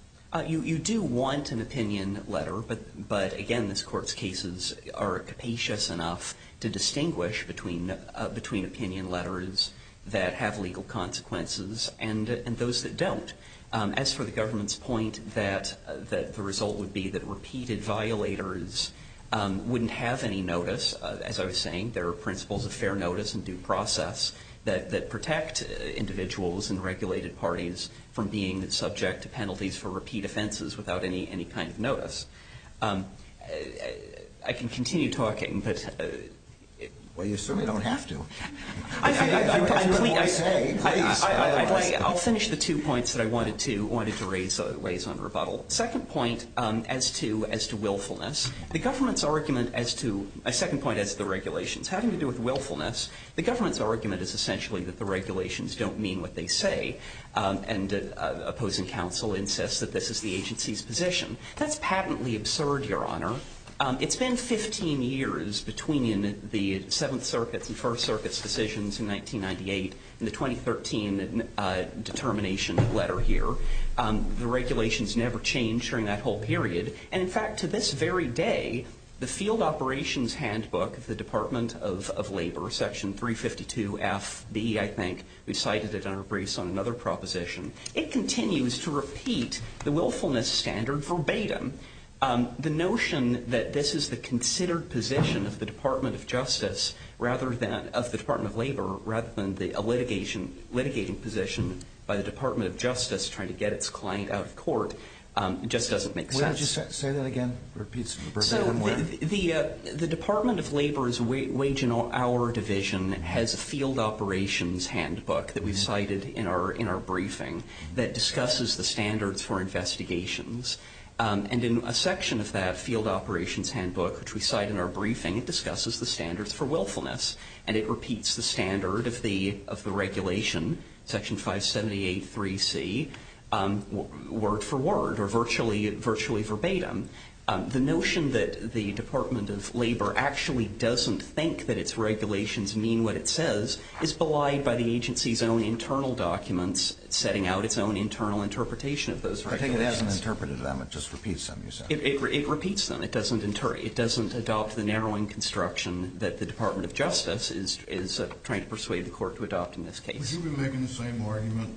You do want an opinion letter, but again, this Court's cases are capacious enough to distinguish between opinion letters that have legal consequences and those that don't. As for the government's point that the result would be that repeated violators wouldn't have any notice, as I was saying, there are principles of fair notice and due process that protect individuals and regulated parties from being subject to penalties for repeat offenses without any kind of notice. I can continue talking, but... Well, you certainly don't have to. If you want to say, please. I'll finish the two points that I wanted to raise on rebuttal. Second point as to willfulness. The government's argument as to, second point as to the regulations having to do with willfulness, the government's argument is essentially that the regulations don't mean what they say and opposing counsel insists that this is the agency's position. That's patently absurd, Your Honor. It's been 15 years between the Seventh Circuit's and First Circuit's decisions in 1998 and the 2013 determination letter here. The regulations never changed during that whole period. And in fact, to this very day, the Field Operations Handbook of the Department of Labor, Section 352FB, I think, we cited it in our briefs on another proposition. It continues to repeat the willfulness standard verbatim. The notion that this is the considered position of the Department of Justice rather than of the Department of Labor rather than a litigating position by the Department of Justice trying to get its client out of court just doesn't make sense. The Department of Labor's Wage and Hour Division has a Field Operations Handbook that we cited in our briefing that discusses the standards for investigations. And in a section of that Field Operations Handbook, which we cite in our briefing, it discusses the standards for willfulness. And it repeats the standard of the regulation, Section 5783C, word for word or virtually verbatim. The notion that the Department of Labor actually doesn't think that its regulations mean what it says is belied by the agency's own internal documents setting out its own internal interpretation of those regulations. I take it it hasn't interpreted them. It just repeats them, you said. It repeats them. It doesn't adopt the narrowing construction that the Department of Justice is trying to persuade the court to adopt in this case. Would you be making the same argument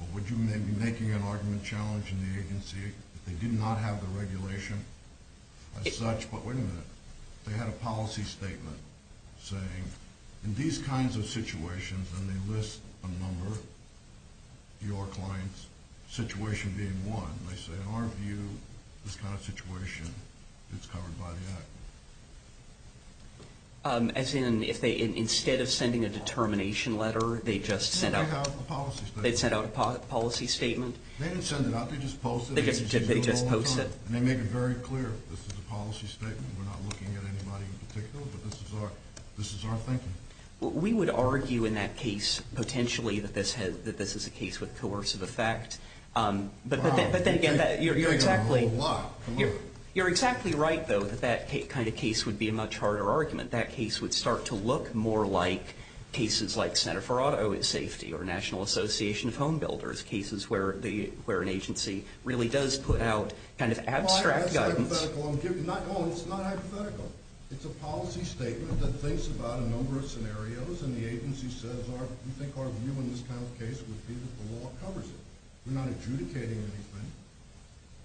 or would you be making an argument challenging the agency if they did not have the regulation as such? But wait a minute, they had a policy statement saying, in these kinds of situations, and they list a number, your clients, situation being one, they say, in our view, this kind of situation, it's covered by the Act. As in, if they, instead of sending a determination letter, they just sent out a policy statement? They didn't send it out, they just posted it. And they make it very clear, this is a policy statement, we're not looking at anybody in particular, but this is our thinking. We would argue in that case, potentially, that this is a case with coercive effect. But then again, you're exactly right, though, that that kind of case would be a much harder argument. That case would start to look more like cases like Center for Auto Safety or National Association of Home Builders, cases where an agency really does put out kind of abstract guidance. It's not hypothetical. It's a policy statement that thinks about a number of scenarios and the agency says, we think our view in this kind of case would be that the law covers it. We're not adjudicating anything.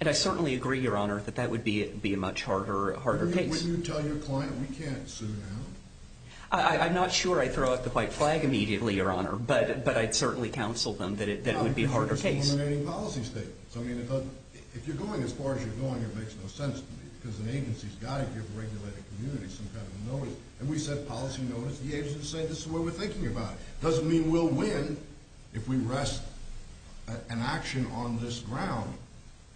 And I certainly agree, Your Honor, that that would be a much harder case. Wouldn't you tell your client, we can't sue now? I'm not sure I throw up the white flag immediately, Your Honor, but I'd certainly counsel them that it would be a harder case. It's an eliminating policy statement. If you're going as far as you're going, it makes no sense to me, because an agency's got to give a regulated community some kind of notice. And we send policy notice, the agency says, this is what we're thinking about. It doesn't mean we'll win if we rest an action on this ground,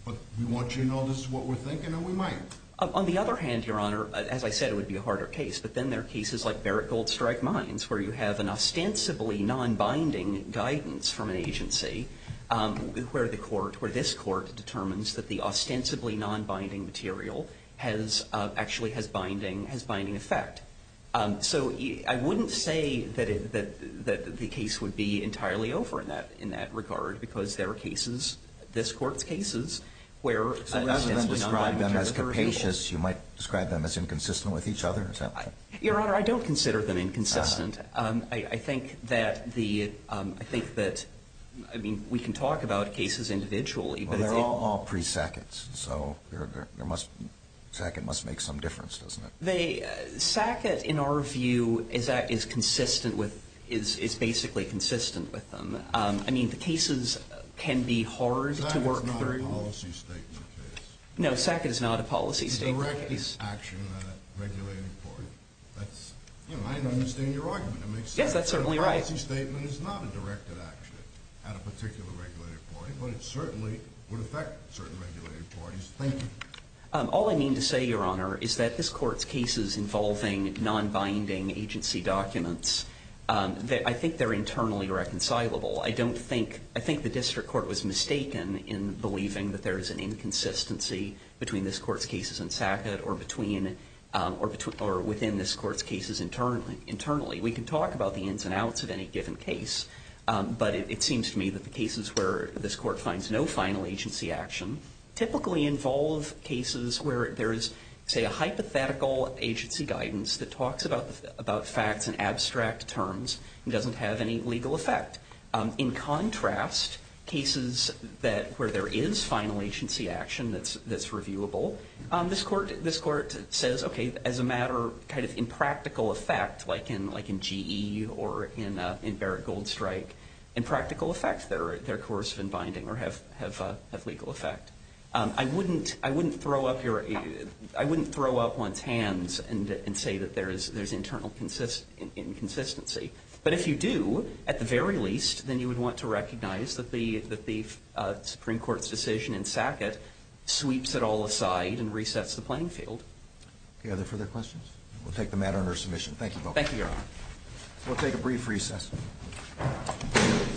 but we want you to know this is what we're thinking and we might. On the other hand, Your Honor, as I said, it would be a harder case. But then there are cases like Barrett Gold Strike Mines, where you have an ostensibly non-binding guidance from an agency, where the court, where this court, determines that the ostensibly non-binding material has actually has binding effect. So I wouldn't say that the case would be entirely over in that regard, because there are cases, this Court's cases, where an ostensibly non-binding You might describe them as inconsistent with each other? Your Honor, I don't consider them inconsistent. I think that the, I think that, I mean, we can talk about cases individually. They're all pre-Sackett's. So Sackett must make some difference, doesn't it? Sackett, in our view, is consistent with, is basically consistent with them. I mean, the cases can be hard to work through. Sackett is not a policy statement case. No, Sackett is not a policy statement case. It's directed action at a regulated party. That's, you know, I understand your argument. Yes, that's certainly right. A policy statement is not a directed action at a particular regulated party, but it certainly would affect certain regulated parties. Thank you. All I mean to say, Your Honor, is that this Court's cases involving non-binding agency documents, I think they're internally reconcilable. I don't think, I think the district court was mistaken in believing that there is an inconsistency between this Court's cases in Sackett or between, or within this Court's cases internally. We can talk about the ins and outs of any given case, but it seems to me that the cases where this Court finds no final agency action typically involve cases where there is, say, a hypothetical agency guidance that talks about facts in abstract terms and doesn't have any legal effect. In contrast, cases that, where there is final agency action that's, that's reviewable, this Court, this Court says, okay, as a matter kind of in practical effect, like in, like in GE or in, in Barrett Goldstrike, in practical effect, they're, they're coercive in binding or have, have, have legal effect. I wouldn't, I wouldn't throw up your, I wouldn't throw up one's hands and, and say that there is, there's internal inconsistency. But if you do, at the very least, then you would want to recognize that the, that the Supreme Court's decision in Sackett sweeps it all aside and resets the playing field. Do you have any further questions? We'll take the matter under submission. Thank you both. Thank you, Your Honor. We'll take a brief recess.